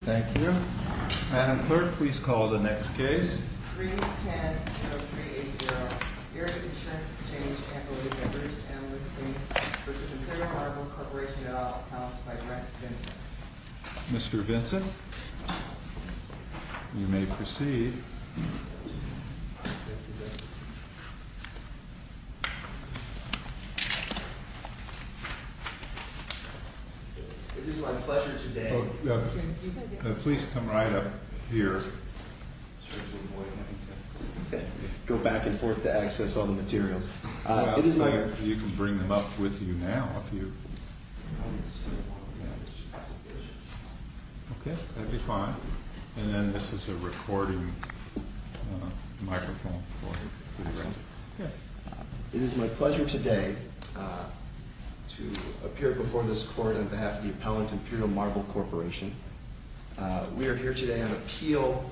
Thank you. Madam Clerk, please call the next case. 310-0380, Erie Insurance Exchange, and the late Bruce M. Lipsmith v. Imperial Marble Corp. et al., House, by Brent Vinson. Mr. Vinson, you may proceed. It is my pleasure today. Please come right up here. Go back and forth to access all the materials. I'll tell you if you can bring them up with you now, if you. OK, that'd be fine. And then this is a recording microphone for you. It is my pleasure today to appear before this court on behalf of the appellant, Imperial Marble Corporation. We are here today on appeal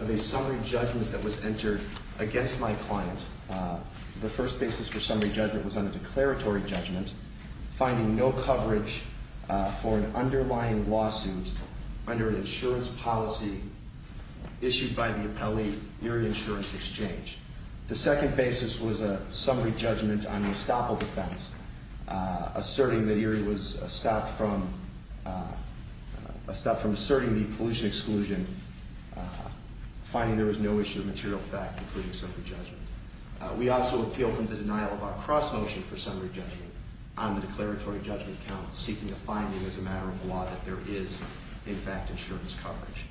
of a summary judgment that was entered against my client. The first basis for summary judgment was on a declaratory judgment, finding no coverage for an underlying lawsuit under an insurance policy issued by the appellee, Erie Insurance Exchange. The second basis was a summary judgment on the estoppel defense, asserting that Erie was stopped from asserting the pollution exclusion, finding there was no issue of material fact, including summary judgment. We also appeal from the denial of our cross-motion for summary judgment on the declaratory judgment count, seeking a finding as a matter of law that there is, in fact, insurance coverage.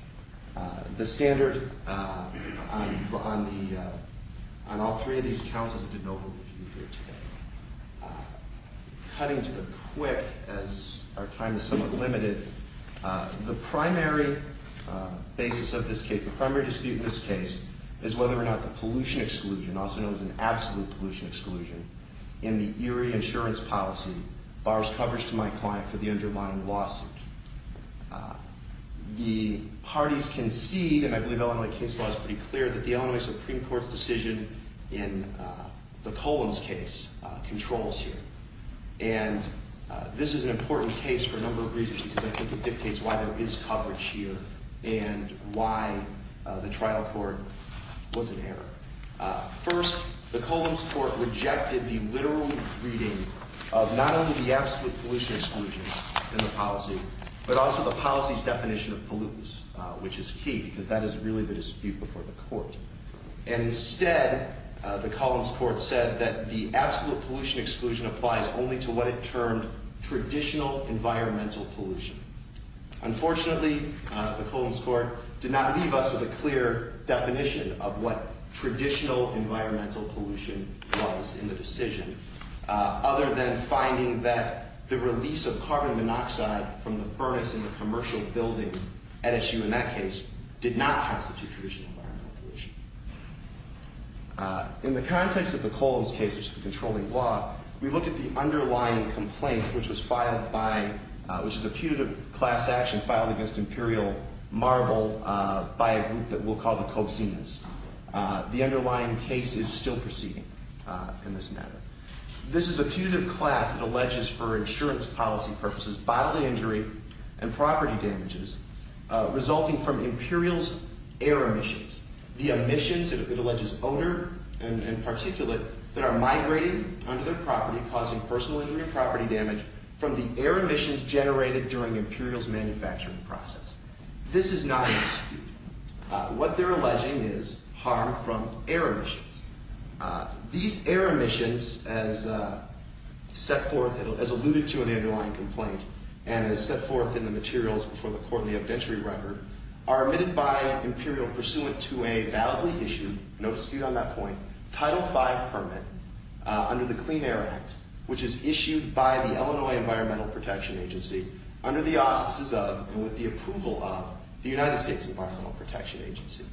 The standard on all three of these counts is a de novo review here today. Cutting to the quick, as our time is somewhat limited, the primary basis of this case, the primary dispute in this case, is whether or not the pollution exclusion, also known as an absolute pollution exclusion, in the Erie insurance policy borrows coverage to my client for the underlying lawsuit. The parties concede, and I believe Illinois case law is pretty clear, that the Illinois Supreme Court's in the Columns case controls here. And this is an important case for a number of reasons, because I think it dictates why there is coverage here and why the trial court was in error. First, the Columns court rejected the literal reading of not only the absolute pollution exclusion in the policy, but also the policy's definition of pollutants, which is key, because that is really the dispute before the court. And instead, the Columns court said that the absolute pollution exclusion applies only to what it termed traditional environmental pollution. Unfortunately, the Columns court did not leave us with a clear definition of what traditional environmental pollution was in the decision, other than finding that the release of carbon monoxide from the furnace in the commercial building, at issue in that case, did not constitute traditional environmental pollution. In the context of the Columns case, which is the controlling law, we look at the underlying complaint, which was filed by, which is a putative class action filed against Imperial Marble by a group that we'll call the Cobzinas. The underlying case is still proceeding in this matter. This is a putative class that alleges for insurance policy purposes bodily injury and property damages resulting from Imperial's air emissions. The emissions, it alleges, odor and particulate that are migrating onto their property, causing personal injury and property damage from the air emissions generated during Imperial's manufacturing process. This is not an execute. What they're alleging is harm from air emissions. These air emissions, as set forth, as alluded to in the underlying complaint, and as set forth in the materials before the court in the obdentiary record, are omitted by Imperial pursuant to a validly issued, no dispute on that point, Title 5 permit under the Clean Air Act, which is issued by the Illinois Environmental Protection Agency under the auspices of and with the approval of the United States Environmental Protection Agency.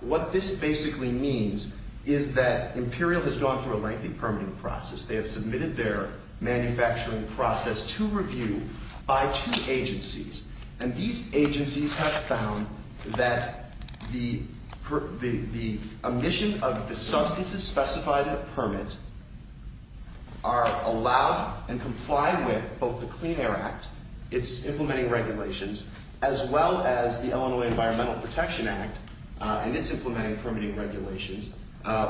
What this basically means is that Imperial has gone through a lengthy permitting process. They have submitted their manufacturing process to review by two agencies. And these agencies have found that the omission of the substances specified in the permit are allowed and complied with both the Clean Air Act, its implementing regulations, as well as the Illinois Environmental Protection Act and its implementing permitting regulations,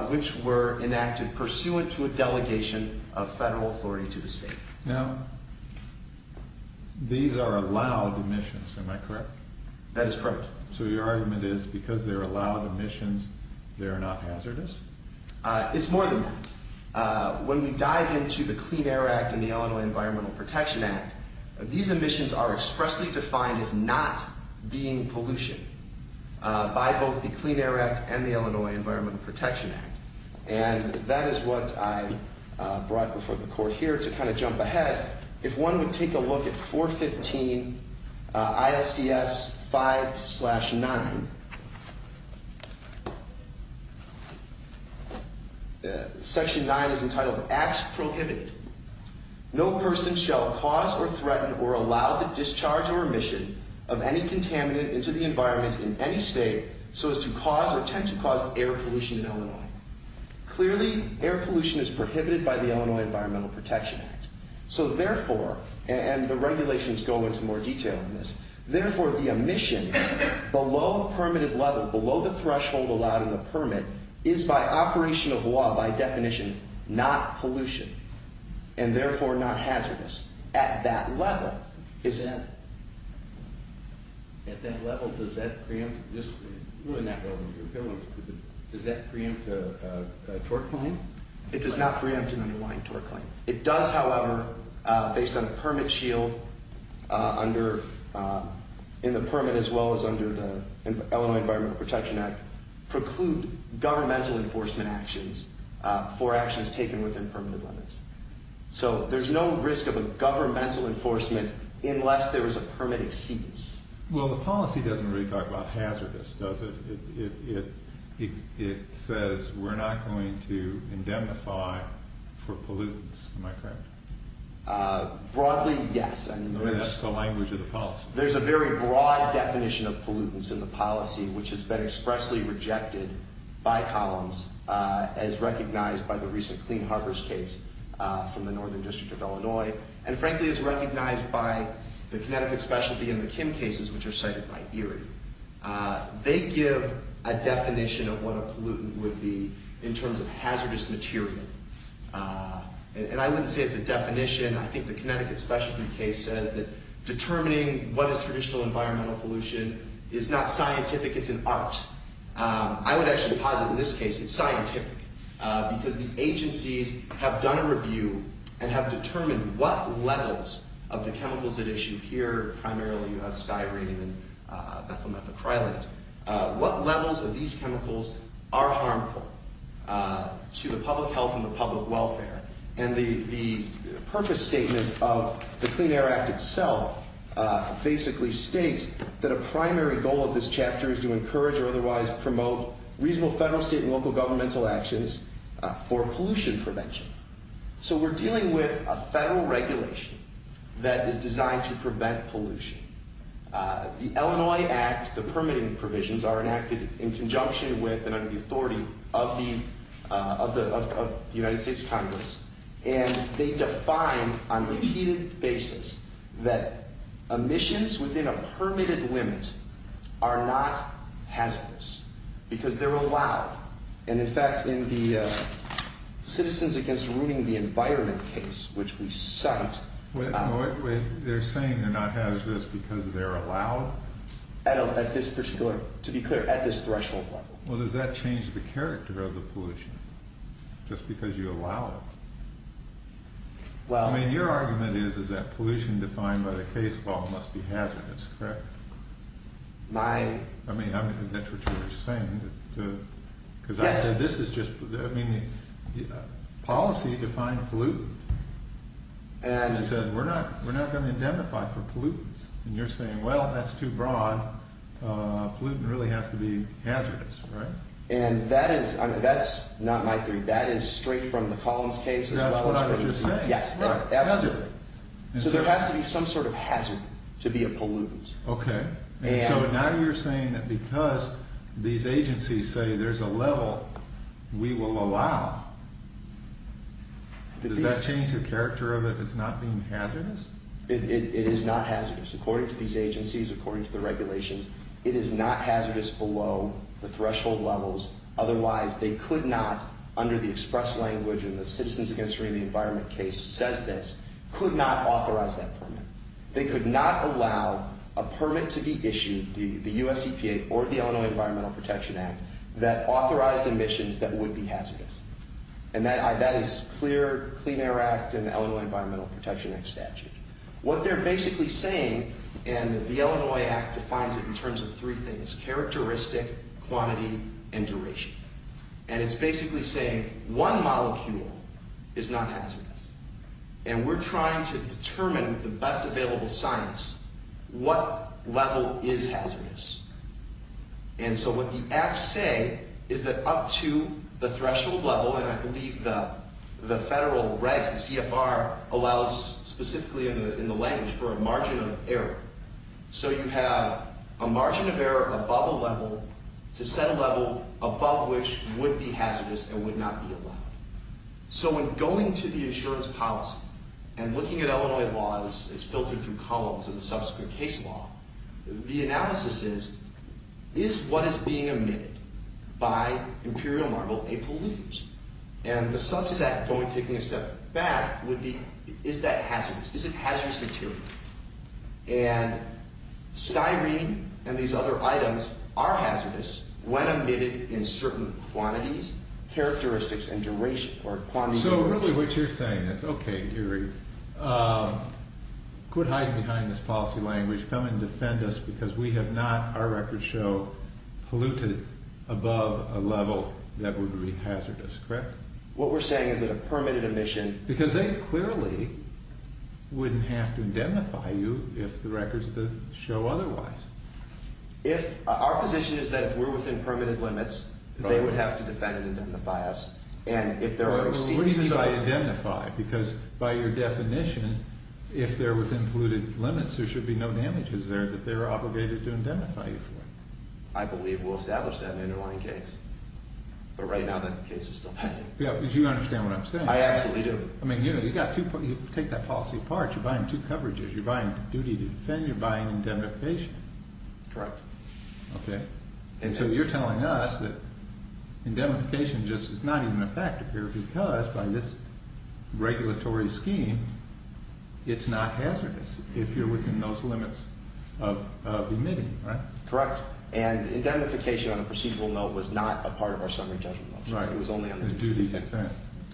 which were enacted pursuant to a delegation of federal authority to the state. Now, these are allowed emissions, am I correct? That is correct. So your argument is because they're allowed emissions, they're not hazardous? It's more than that. When we dive into the Clean Air Act and the Illinois Environmental Protection Act, these emissions are expressly defined as not being pollution by both the Clean Air Act and the Illinois Environmental Protection Act. And that is what I brought before the court here to kind of jump ahead. If one would take a look at 415 ILCS 5-9, section 9 is entitled Acts Prohibited. No person shall cause or threaten or allow the discharge or omission of any contaminant into the environment in any state so as to cause or tend to cause air pollution in Illinois. Clearly, air pollution is prohibited by the Illinois Environmental Protection Act. So therefore, and the regulations go into more detail on this, therefore, the omission below permitted level, below the threshold allowed in the permit, is by operation of law, by definition, not pollution, and therefore, not hazardous. At that level, it's not. At that level, does that preempt a torque line? It does not preempt an underlying torque line. It does, however, based on a permit shield in the permit as well as under the Illinois Environmental Protection Act, preclude governmental enforcement actions for actions taken within permitted limits. So there's no risk of a governmental enforcement unless there is a permit exceedance. Well, the policy doesn't really talk about hazardous, does it? It says we're not going to indemnify for pollutants. Am I correct? Broadly, yes. I mean, that's the language of the policy. There's a very broad definition of pollutants in the policy, which has been expressly rejected by columns as recognized by the recent Clean Harvest case from the Northern District of Illinois and frankly, as recognized by the Connecticut Specialty and the Kim cases, which are cited by ERI. They give a definition of what a pollutant would be in terms of hazardous material. And I wouldn't say it's a definition. I think the Connecticut Specialty case says that determining what is traditional environmental pollution is not scientific. It's an art. I would actually posit in this case it's scientific because the agencies have done a review and have determined what levels of the chemicals that issue here, primarily you have styrene and bethylmethacrylate, what levels of these chemicals are harmful to the public health and the public welfare. And the purpose statement of the Clean Air Act itself basically states that a primary goal of this chapter is to encourage or otherwise promote reasonable federal, state, and local governmental actions for pollution prevention. So we're dealing with a federal regulation that is designed to prevent pollution. The Illinois Act, the permitting provisions are enacted in conjunction with and under the authority of the United States Congress. And they define on a repeated basis that emissions within a permitted limit are not hazardous because they're allowed. And in fact, in the Citizens Against Ruining the Environment case, which we cite. They're saying they're not hazardous because they're allowed? At this particular, to be clear, at this threshold level. Well, does that change the character of the pollution just because you allow it? Well, I mean, your argument is that pollution defined by the case law must be hazardous, correct? My. I mean, that's what you were saying. Because I said this is just, I mean, policy defined pollutant. And it says we're not going to identify for pollutants. And you're saying, well, that's too broad. Pollutant really has to be hazardous, right? And that is, that's not my theory. That is straight from the Collins case. That's what I was just saying. Yes, absolutely. So there has to be some sort of hazard to be a pollutant. OK. And so now you're saying that because these agencies say there's a level we will allow, does that change the character of it as not being hazardous? It is not hazardous. According to these agencies, according to the regulations, it is not hazardous below the threshold levels. Otherwise, they could not, under the express language and the Citizens Against Marine and Environment case says this, could not authorize that permit. They could not allow a permit to be issued, the US EPA or the Illinois Environmental Protection Act, that authorized emissions that would be hazardous. And that is clear, Clean Air Act and Illinois Environmental Protection Act statute. What they're basically saying, and the Illinois Act defines it in terms of three things, characteristic, quantity, and duration. And it's basically saying one molecule is not hazardous. And we're trying to determine with the best available science what level is hazardous. And so what the acts say is that up to the threshold level, and I believe the federal regs, the CFR, allows specifically in the language for a margin of error. So you have a margin of error above a level to set a level above which would be hazardous and would not be allowed. So when going to the insurance policy and looking at Illinois laws as filtered through columns of the subsequent case law, the analysis is, is what is being emitted by Imperial Marble a pollutant? And the subset, going, taking a step back, would be, is that hazardous? Is it hazardous material? And styrene and these other items are hazardous when emitted in certain quantities, characteristics, and duration, or quantity, duration. So really what you're saying is, okay, Gary, quit hiding behind this policy language, come and defend us, because we have not, our records show, polluted above a level that would be hazardous, correct? What we're saying is that a permitted emission. Because they clearly wouldn't have to indemnify you if the records show otherwise. If, our position is that if we're within permitted limits, they would have to defend and indemnify us. And if there are receipts. The reasons I identify, because by your definition, if they're within polluted limits, there should be no damages there that they're obligated to indemnify you for. I believe we'll establish that in an underlying case. But right now, that case is still pending. Yeah, because you understand what I'm saying. I absolutely do. I mean, you know, you got two, you take that policy apart. You're buying two coverages. You're buying duty to defend. You're buying indemnification. Correct. Okay. And so you're telling us that indemnification just is not even a factor here, because by this regulatory scheme, it's not hazardous. If you're within those limits of admitting, right? Correct. And indemnification on a procedural note was not a part of our summary judgment motion. Right. It was only on the duty to defend.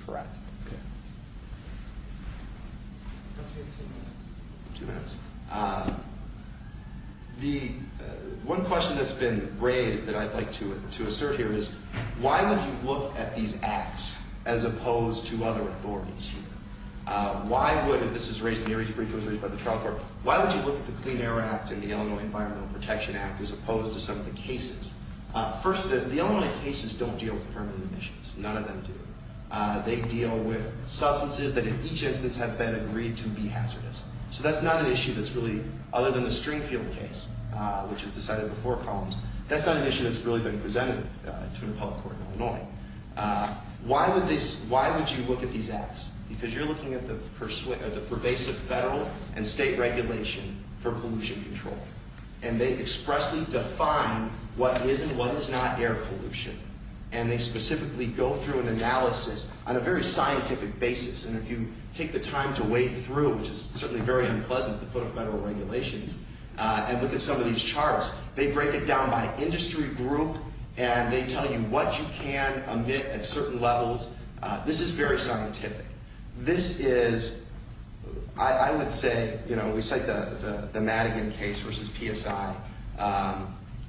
Correct. Okay. Two minutes. The one question that's been raised that I'd like to assert here is, why would you look at these acts as opposed to other authorities here? Why would, if this is raised, and Mary's brief was raised by the trial court, why would you look at the Clean Air Act and the Illinois Environmental Protection Act as opposed to some of the cases? First, the Illinois cases don't deal with permanent emissions. None of them do. They deal with substances that in each instance have been agreed to be hazardous. So that's not an issue that's really, other than the Stringfield case, which was decided before Collins, that's not an issue that's really been presented to an appellate court in Illinois. Why would you look at these acts? Because you're looking at the pervasive federal and state regulation for pollution control. And they expressly define what is and what is not air pollution. And they specifically go through an analysis on a very scientific basis. And if you take the time to wade through, which is certainly very unpleasant to put in federal regulations, and look at some of these charts, they break it down by industry group, and they tell you what you can emit at certain levels. This is very scientific. This is, I would say, we cite the Madigan case versus PSI.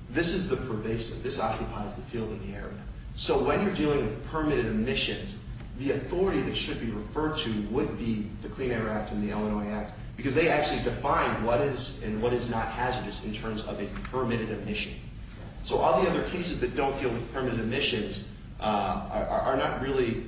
This is the pervasive, this occupies the field in the area. So when you're dealing with permitted emissions, the authority that should be referred to would be the Clean Air Act and the Illinois Act, because they actually define what is and what is not hazardous in terms of a permitted emission. So all the other cases that don't deal with permitted emissions are not really,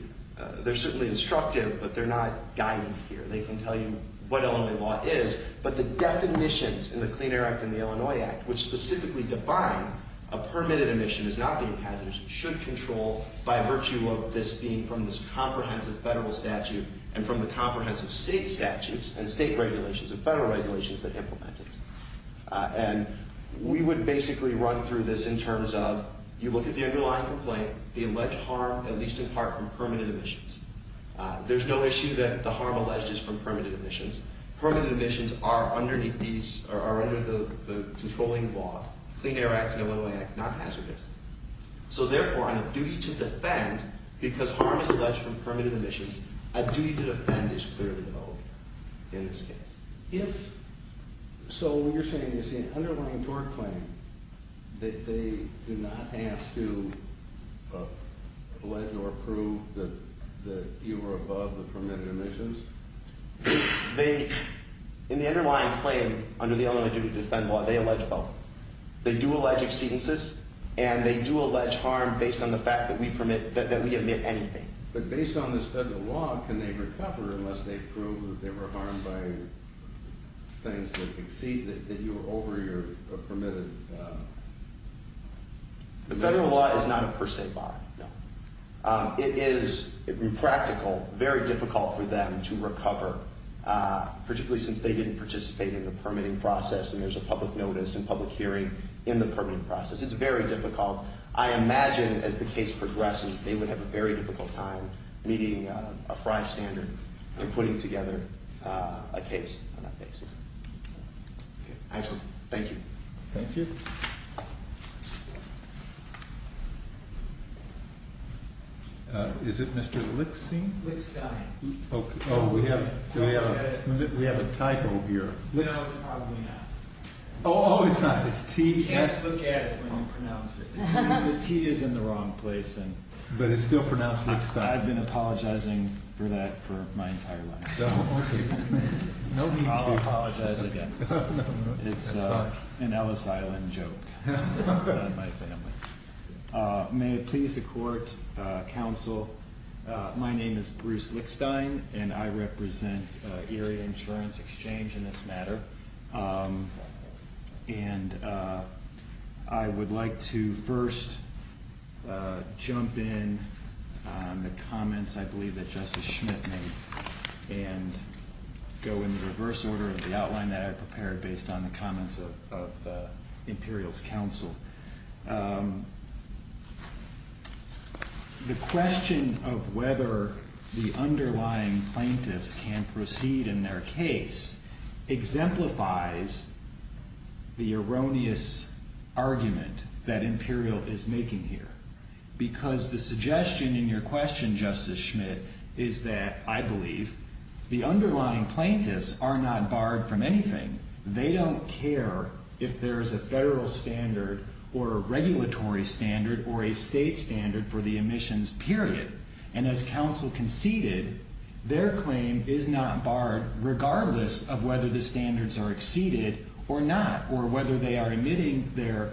they're certainly instructive, but they're not guided here. They can tell you what Illinois law is, but the definitions in the Clean Air Act and the Illinois Act, which specifically define a permitted emission as not being hazardous, should control by virtue of this being from this comprehensive federal statute and from the comprehensive state statutes and state regulations and federal regulations that implement it. And we would basically run through this in terms of, you look at the underlying complaint, the alleged harm, at least in part, from permitted emissions. There's no issue that the harm alleged is from permitted emissions. Permitted emissions are underneath these, or are under the controlling law, Clean Air Act and Illinois Act, not hazardous. So therefore, on a duty to defend, because harm is alleged from permitted emissions, a duty to defend is clearly owed in this case. If, so what you're saying is the underlying tort claim, that they do not have to allege or prove that you were above the permitted emissions? They, in the underlying claim, under the Illinois duty to defend law, they allege both. They do allege exceedances and they do allege harm based on the fact that we permit, that we admit anything. But based on this federal law, can they recover unless they prove that they were harmed by things that exceed, that you were over your permitted emissions? The federal law is not a per se bar, no. It is impractical, very difficult for them to recover, particularly since they didn't participate in the permitting process, and there's a public notice and public hearing in the permitting process. It's very difficult. I imagine, as the case progresses, they would have a very difficult time meeting a FRI standard and putting together a case on that basis. I just, thank you. Thank you. Is it Mr. Lickstein? Lickstein. Oh, we have a typo here. No, it's probably not. Oh, oh, it's not. It's T-S. You can't look at it when you pronounce it. The T is in the wrong place. But it's still pronounced Lickstein. I've been apologizing for that for my entire life. Oh, okay. No need to. I'll apologize again. It's an Ellis Island joke. May it please the court, counsel, my name is Bruce Lickstein, and I represent Area Insurance Exchange in this matter. And I would like to first jump in on the comments I believe that Justice Schmidt made and go in the reverse order of the outline that I prepared based on the comments of the Imperial's counsel. The question of whether the underlying plaintiffs can proceed in their case exemplifies the erroneous argument that Imperial is making here. Because the suggestion in your question, Justice Schmidt, is that, I believe, the underlying plaintiffs are not barred from anything. They don't care if there's a federal standard or a regulatory standard or a state standard for the emissions, period. And as counsel conceded, their claim is not barred regardless of whether the standards are exceeded or not, or whether they are emitting their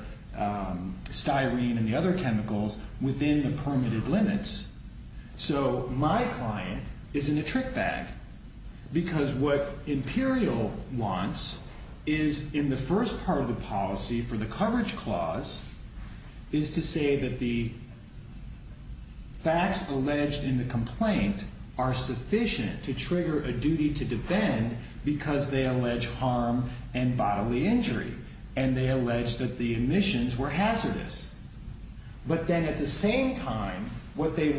styrene and the other chemicals within the permitted limits. So my client is in a trick bag because what Imperial wants is, in the first part of the policy for the coverage clause, is to say that the facts alleged in the complaint are sufficient to trigger a duty to defend because they allege harm and bodily injury. And they allege that the emissions were hazardous. But then at the same time, what they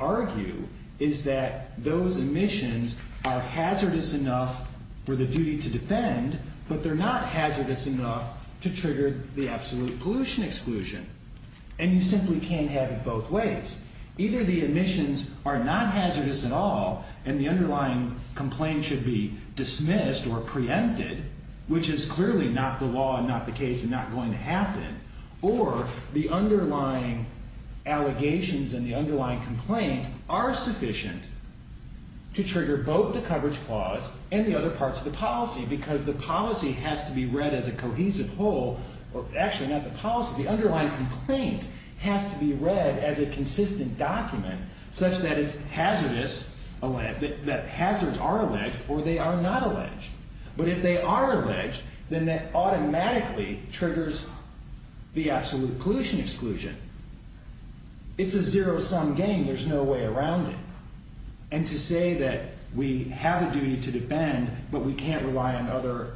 argue is that those emissions are hazardous enough for the duty to defend, but they're not hazardous enough to trigger the absolute pollution exclusion. And you simply can't have it both ways. Either the emissions are not hazardous at all and the underlying complaint should be dismissed or preempted, which is clearly not the law and not the case and not going to happen, or the underlying allegations and the underlying complaint are sufficient to trigger both the coverage clause and the other parts of the policy because the policy has to be read as a cohesive whole, or actually not the policy, the underlying complaint has to be read as a consistent document such that it's hazardous, that hazards are alleged or they are not alleged. But if they are alleged, then that automatically triggers the absolute pollution exclusion. It's a zero-sum game. There's no way around it. And to say that we have a duty to defend, but we can't rely on other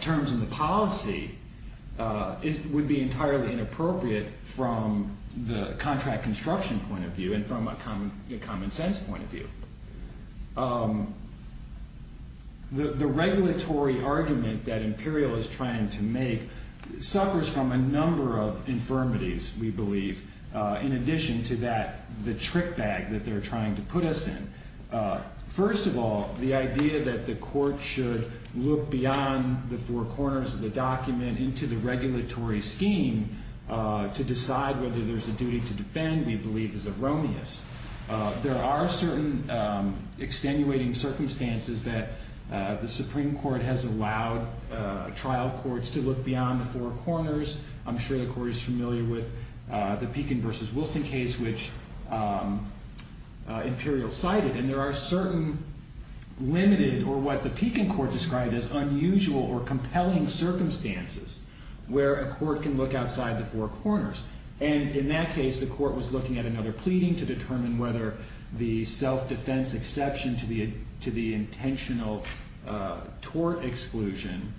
terms in the policy would be entirely inappropriate from the contract construction point of view and from a common sense point of view. The regulatory argument that Imperial is trying to make suffers from a number of infirmities, we believe, in addition to the trick bag that they're trying to put us in. First of all, the idea that the court should look beyond the four corners of the document into the regulatory scheme to decide whether there's a duty to defend, we believe, is erroneous. There are certain extenuating circumstances that the Supreme Court has allowed trial courts to look beyond the four corners. I'm sure the court is familiar with the Pekin versus Wilson case, which Imperial cited. And there are certain limited, or what the Pekin court described as unusual or compelling circumstances, where a court can look outside the four corners. And in that case, the court was looking at another pleading to determine whether the self-defense exception to the intentional tort exclusion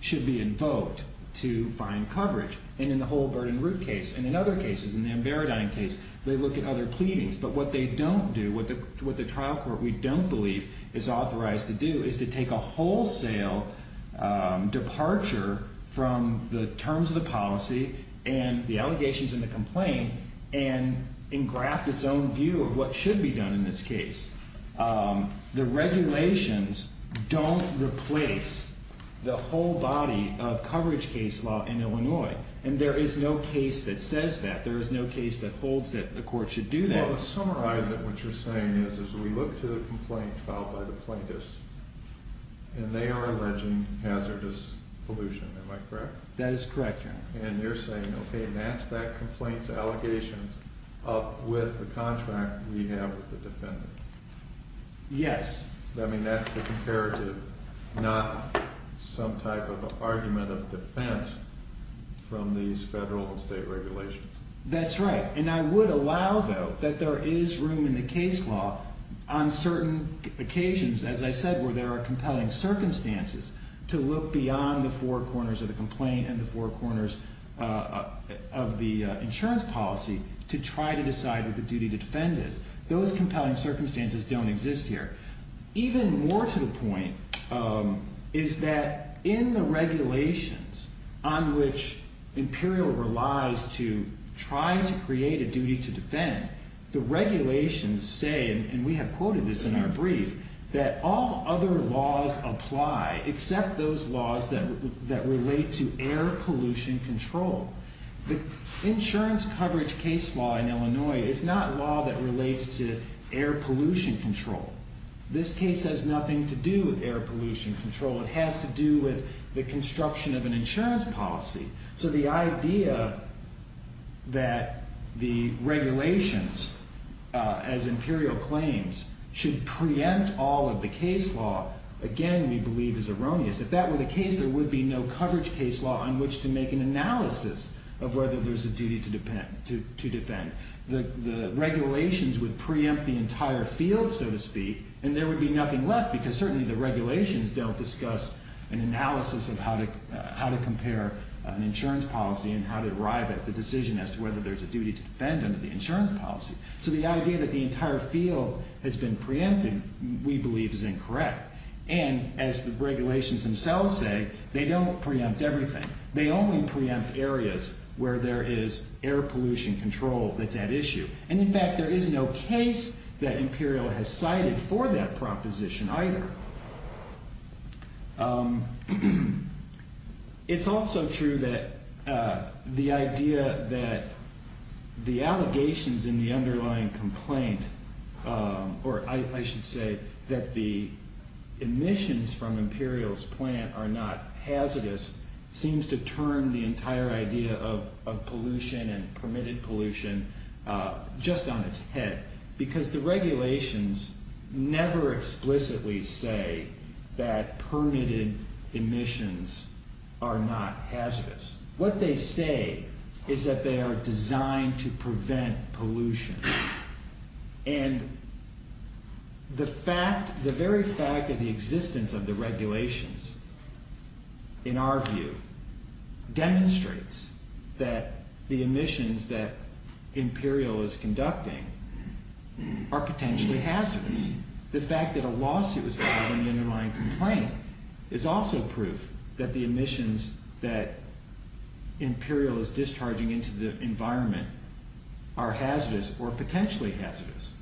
should be invoked to find coverage. And in the whole Burden Root case, and in other cases, in the Ambaradine case, they look at other pleadings. But what they don't do, what the trial court, we don't believe, is authorized to do is to take a wholesale departure from the terms of the policy and the allegations and the complaint and engraft its own view of what should be done in this case. The regulations don't replace the whole body of coverage case law in Illinois. And there is no case that says that. There is no case that holds that the court should do that. Well, to summarize it, what you're saying is, is we look to the complaint filed by the plaintiffs, and they are alleging hazardous pollution. Am I correct? That is correct, Your Honor. And you're saying, OK, match that complaint's allegations up with the contract we have with the defendant? Yes. I mean, that's the comparative, not some type of argument of defense from these federal and state regulations. That's right. And I would allow, though, that there is room in the case law on certain occasions, as I said, where there are compelling circumstances, to look beyond the four corners of the complaint and the four corners of the insurance policy to try to decide what the duty to defend is. Those compelling circumstances don't exist here. Even more to the point is that in the regulations on which Imperial relies to try to create a duty to defend, the regulations say, and we have quoted this in our brief, that all other laws apply except those laws that relate to air pollution control. The insurance coverage case law in Illinois is not law that relates to air pollution control. This case has nothing to do with air pollution control. It has to do with the construction of an insurance policy. So the idea that the regulations, as Imperial claims, should preempt all of the case law, again, we believe is erroneous. If that were the case, there would be no coverage case law on which to make an analysis of whether there's a duty to defend. The regulations would preempt the entire field, so to speak, and there would be nothing left, because certainly the regulations don't discuss an analysis of how to compare an insurance policy and how to arrive at the decision as to whether there's a duty to defend under the insurance policy. So the idea that the entire field has been preempted, we believe is incorrect. And as the regulations themselves say, they don't preempt everything. They only preempt areas where there is air pollution control that's at issue. And in fact, there is no case that Imperial has cited for that proposition either. It's also true that the idea that the allegations in the underlying complaint, or I emissions from Imperial's plant are not hazardous, seems to turn the entire idea of pollution and permitted pollution just on its head. Because the regulations never explicitly say that permitted emissions are not hazardous. What they say is that they are designed to prevent pollution. And the very fact of the existence of the regulations, in our view, demonstrates that the emissions that Imperial is conducting are potentially hazardous. The fact that a lawsuit was filed in the underlying complaint is also proof that the emissions that Imperial is discharging into the environment are hazardous or potentially hazardous.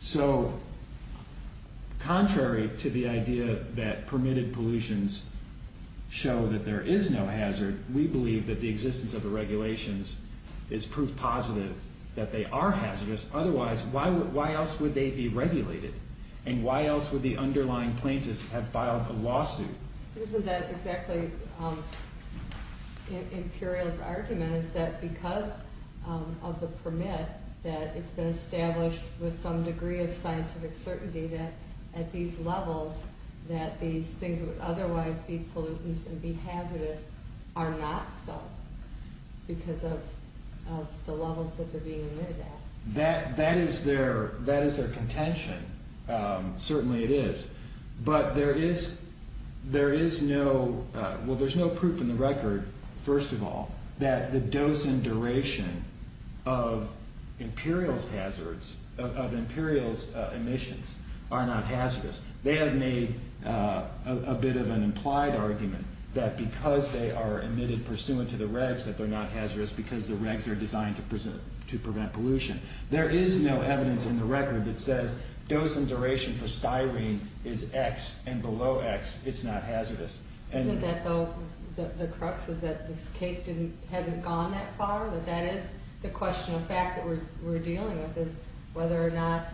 So contrary to the idea that permitted pollutions show that there is no hazard, we believe that the existence of the regulations is proof positive that they are hazardous. Otherwise, why else would they be regulated? And why else would the underlying plaintiffs have filed a lawsuit? Isn't that exactly Imperial's argument, is that because of the permit, that it's been established with some degree of scientific certainty that, at these levels, that these things would otherwise be pollutants and be hazardous are not so, because of the levels that they're being admitted at. That is their contention. Certainly it is. But there is no proof in the record, first of all, that the dose and duration of Imperial's hazards, of Imperial's emissions, are not hazardous. They have made a bit of an implied argument that, because they are emitted pursuant to the regs, that they're not hazardous, because the regs are designed to prevent pollution. There is no evidence in the record that says dose and duration for styrene is x, and below x, it's not hazardous. Isn't that, though, the crux, is that this case hasn't gone that far? That that is the question of fact that we're dealing with, is whether or not,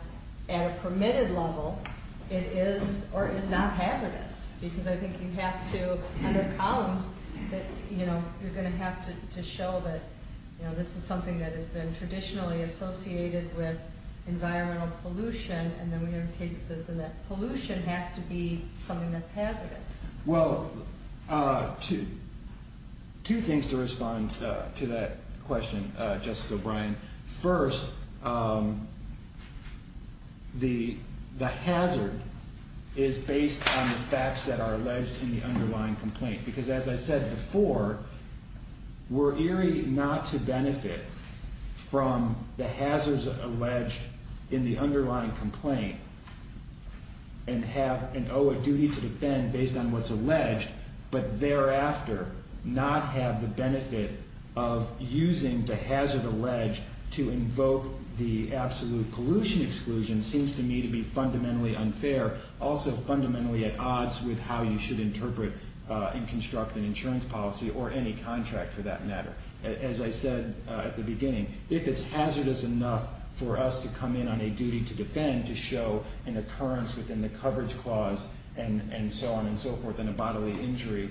at a permitted level, it is or is not hazardous. Because I think you have to, under columns, that you're going to have to show that this is something that has been traditionally associated with environmental pollution. And then we have cases in that pollution has to be something that's hazardous. Well, two things to respond to that question, Justice O'Brien. First, the hazard is based on the facts that are alleged in the underlying complaint. Because as I said before, we're eerie not to benefit from the hazards alleged in the underlying complaint, and owe a duty to defend based on what's alleged. But thereafter, not have the benefit of using the hazard alleged to invoke the absolute pollution exclusion seems to me to be fundamentally unfair. Also, fundamentally at odds with how you should interpret and construct an insurance policy, or any contract, for that matter. As I said at the beginning, if it's hazardous enough for us to come in on a duty to defend, to show an occurrence within the coverage clause, and so on and so forth, in a bodily injury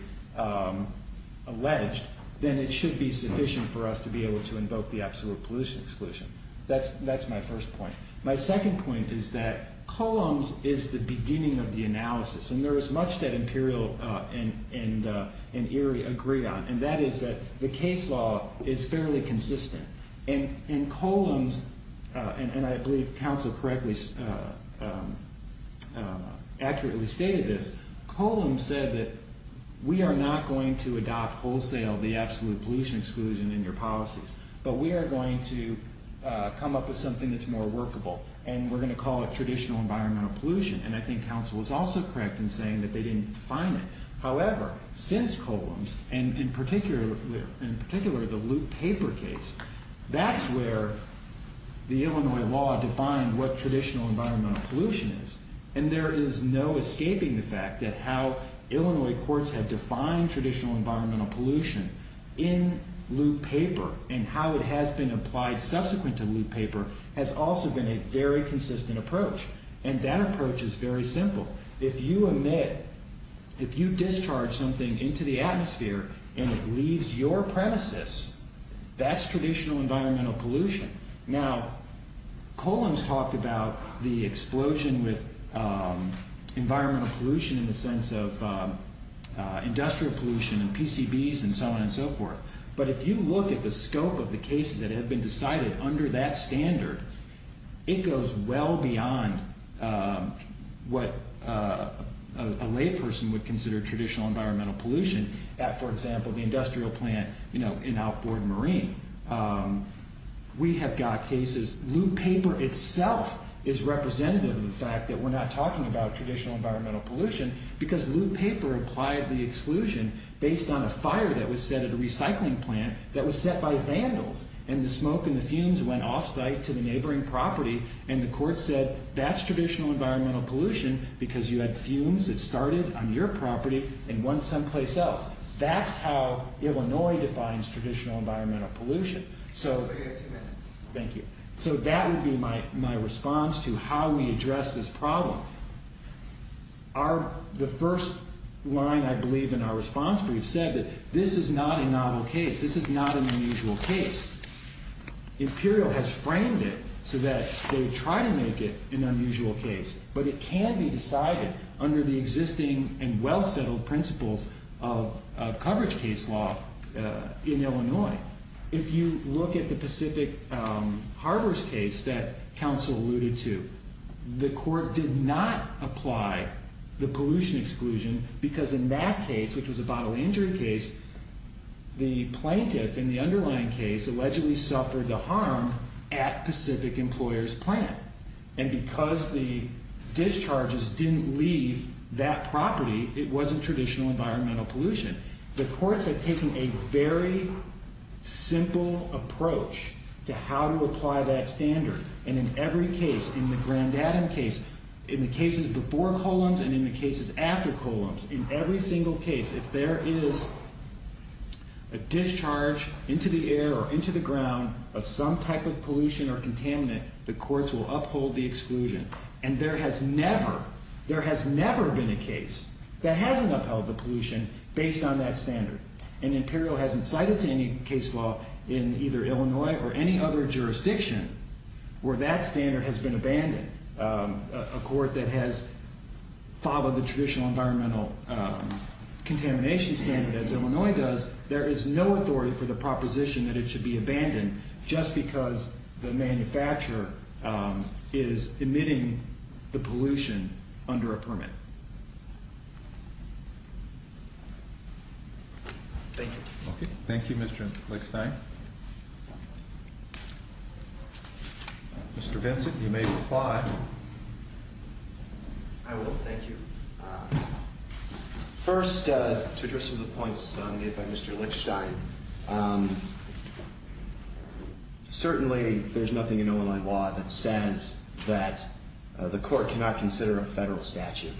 alleged, then it should be sufficient for us to be able to invoke the absolute pollution exclusion. That's my first point. My second point is that columns is the beginning of the analysis. And there is much that Imperial and Erie agree on. And that is that the case law is fairly consistent. And in columns, and I believe council correctly, accurately stated this, columns said that we are not going to adopt wholesale the absolute pollution exclusion in your policies. But we are going to come up with something that's more workable. And we're going to call it traditional environmental pollution. And I think council was also correct in saying that they didn't define it. However, since columns, and in particular, in particular, the loop paper case, that's where the Illinois law defined what traditional environmental pollution is. And there is no escaping the fact that how Illinois courts have defined traditional environmental pollution in loop paper, and how it has been applied subsequent to loop paper, has also been a very consistent approach. And that approach is very simple. If you emit, if you discharge something into the atmosphere, and it leaves your premises, that's traditional environmental pollution. Now, columns talked about the explosion with environmental pollution in the sense of industrial pollution, and PCBs, and so on and so forth. But if you look at the scope of the cases that have been decided under that standard, it goes well beyond what a layperson would consider traditional environmental pollution at, for example, the industrial plant in outboard marine. We have got cases, loop paper itself is representative of the fact that we're not talking about traditional environmental pollution, because loop paper applied the exclusion based on a fire that was set at a recycling plant that was set by vandals. And the smoke and the fumes went off site to the neighboring property, and the court said that's traditional environmental pollution, because you had fumes that started on your property and went someplace else. That's how Illinois defines traditional environmental pollution. So thank you. So that would be my response to how we address this problem. The first line, I believe, in our response brief said that this is not a novel case. This is not an unusual case. Imperial has framed it so that they try to make it an unusual case. But it can be decided under the existing and well-settled principles of coverage case law in Illinois. If you look at the Pacific Harbors case that counsel alluded to, the court did not apply the pollution exclusion, because in that case, which was a bodily injury case, the plaintiff in the underlying case allegedly suffered the harm at Pacific Employers Plant. And because the discharges didn't leave that property, it wasn't traditional environmental pollution. The courts had taken a very simple approach to how to apply that standard. And in every case, in the Grand Adam case, in the cases before Columns and in the cases after Columns, in every single case, if there is a discharge into the air or into the ground of some type of pollution or contaminant, the courts will uphold the exclusion. And there has never been a case that hasn't upheld the pollution based on that standard. And Imperial hasn't cited any case law in either Illinois or any other jurisdiction where that standard has been abandoned. A court that has followed the traditional environmental contamination standard, as Illinois does, there is no authority for the proposition that it should be abandoned, just because the manufacturer is emitting the pollution under a permit. Thank you. OK. Thank you, Mr. Lickstein. Mr. Vincent, you may reply. I will. Thank you. First, to address some of the points made by Mr. Lickstein, certainly there's nothing in Illinois law that says that the court cannot consider a federal statute.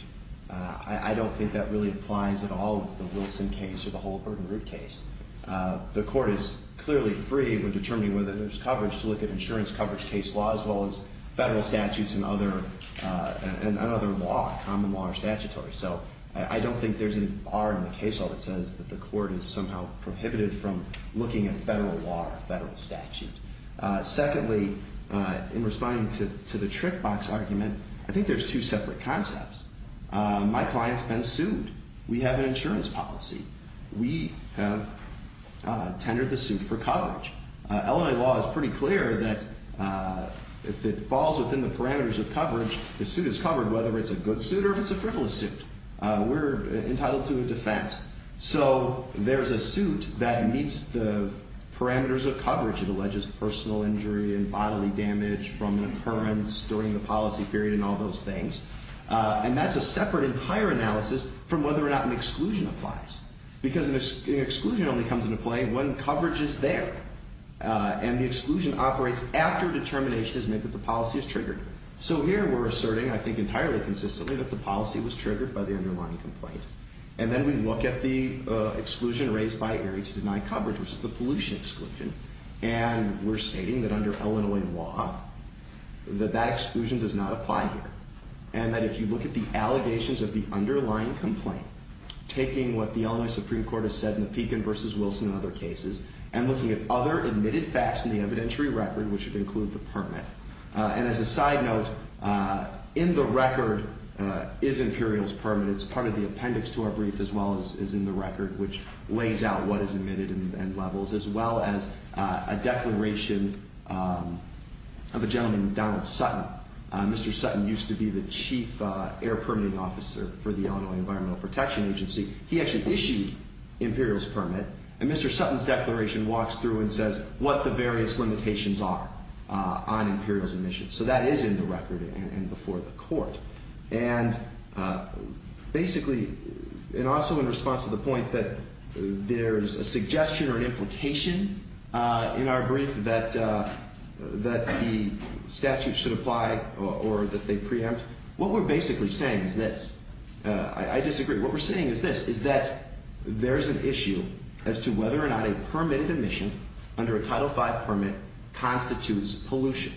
I don't think that really applies at all with the Wilson case or the whole Bird and Root case. The court is clearly free when determining whether there's coverage to look at insurance coverage case laws, as well as federal statutes and other law. Common law or statutory. So I don't think there's any bar in the case law that says that the court is somehow prohibited from looking at federal law or federal statute. Secondly, in responding to the trick box argument, I think there's two separate concepts. My client's been sued. We have an insurance policy. We have tendered the suit for coverage. Illinois law is pretty clear that if it falls within the parameters of coverage, the suit is covered, whether it's a good suit or if it's a frivolous suit. We're entitled to a defense. So there's a suit that meets the parameters of coverage. It alleges personal injury and bodily damage from an occurrence during the policy period and all those things. And that's a separate entire analysis from whether or not an exclusion applies. Because an exclusion only comes into play when coverage is there. And the exclusion operates after determination has made that the policy is triggered. So here we're asserting, I think entirely consistently, that the policy was triggered by the underlying complaint. And then we look at the exclusion raised by Erie to deny coverage, which is the pollution exclusion. And we're stating that under Illinois law, that that exclusion does not apply here. And that if you look at the allegations of the underlying complaint, taking what the Illinois Supreme Court has said in the Pekin versus Wilson and other cases, and looking at other admitted facts in the evidentiary record, which would include the permit. And as a side note, in the record is Imperial's permit. It's part of the appendix to our brief, as well as in the record, which lays out what is admitted and levels. As well as a declaration of a gentleman named Donald Sutton. Mr. Sutton used to be the chief air permitting officer for the Illinois Environmental Protection Agency. He actually issued Imperial's permit. And Mr. Sutton's declaration walks through and says, what the various limitations are on Imperial's admission. So that is in the record and before the court. And basically, and also in response to the point that there is a suggestion or an implication in our brief that the statute should apply or that they preempt, what we're basically saying is this. I disagree. What we're saying is this, is that there is an issue as to whether or not a permitted admission under a Title V permit constitutes pollution.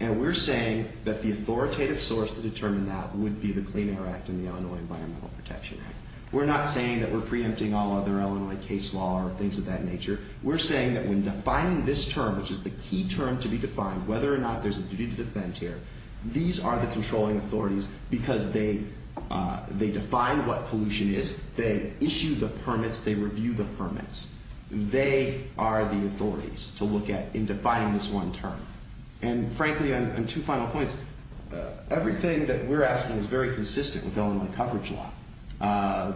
And we're saying that the authoritative source to determine that would be the Clean Air Act and the Illinois Environmental Protection Act. We're not saying that we're preempting all other Illinois case law or things of that nature. We're saying that when defining this term, which is the key term to be defined, whether or not there's a duty to defend here, these are the controlling authorities because they define what pollution is. They issue the permits. They review the permits. They are the authorities to look at in defining this one term. And frankly, on two final points, everything that we're asking is very consistent with Illinois coverage law.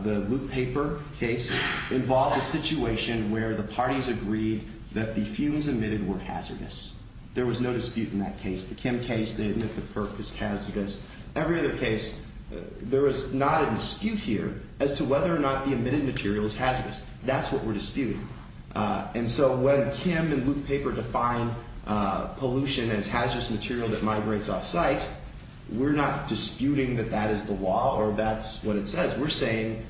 The Blue Paper case involved a situation where the parties agreed that the fumes emitted were hazardous. There was no dispute in that case. The Kim case, they admit that the perk is hazardous. Every other case, there is not a dispute here as to whether or not the emitted material is hazardous. That's what we're disputing. And so when Kim and Blue Paper define pollution as hazardous material that migrates off-site, we're not disputing that that is the law or that's what it says. We're saying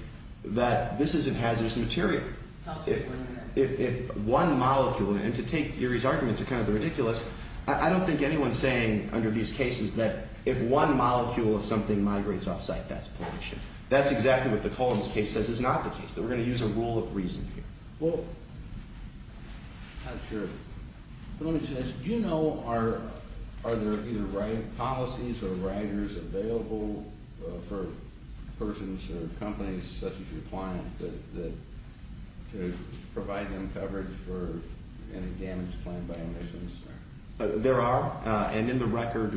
that this isn't hazardous material. If one molecule, and to take Erie's argument, it's kind of ridiculous, I don't think anyone's saying under these cases that if one molecule of something migrates off-site, that's pollution. That's exactly what the Collins case says is not the case. We're going to use a rule of reason here. Well, I'm not sure. Let me just ask, do you know are there either policies or writers available for persons or companies such as your client to provide them coverage for any damage claimed by emissions? There are. And in the record,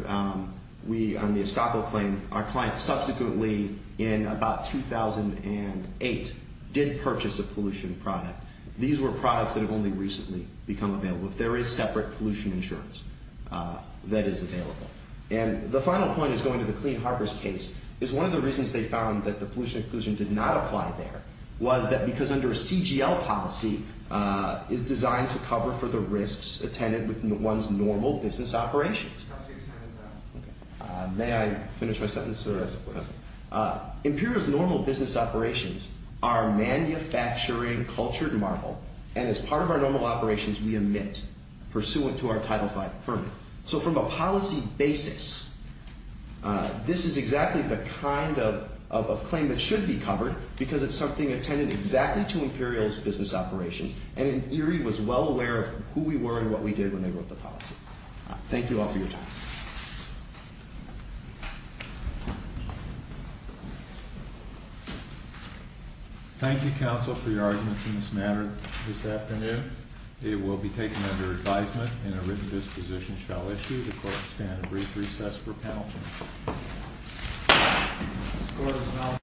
we on the Estoppo claim, our client subsequently, in about 2008, did purchase a pollution product. These were products that have only recently become available. There is separate pollution insurance that is available. And the final point is going to the Clean Harbors case, is one of the reasons they found that the pollution inclusion did not apply there was that because under a CGL policy, it's designed to cover for the risks attended within one's normal business operations. How serious time is that? May I finish my sentence? Imperial's normal business operations are manufacturing cultured marble. And as part of our normal operations, we emit pursuant to our Title V permit. So from a policy basis, this is exactly the kind of claim that should be covered because it's something attended exactly to Imperial's business operations. And Imperial was well aware of who we were and what we did when they wrote the policy. Thank you all for your time. Thank you, counsel, for your arguments in this matter this afternoon. It will be taken under advisement and a written disposition shall issue. The court shall stand and brief recess for panel.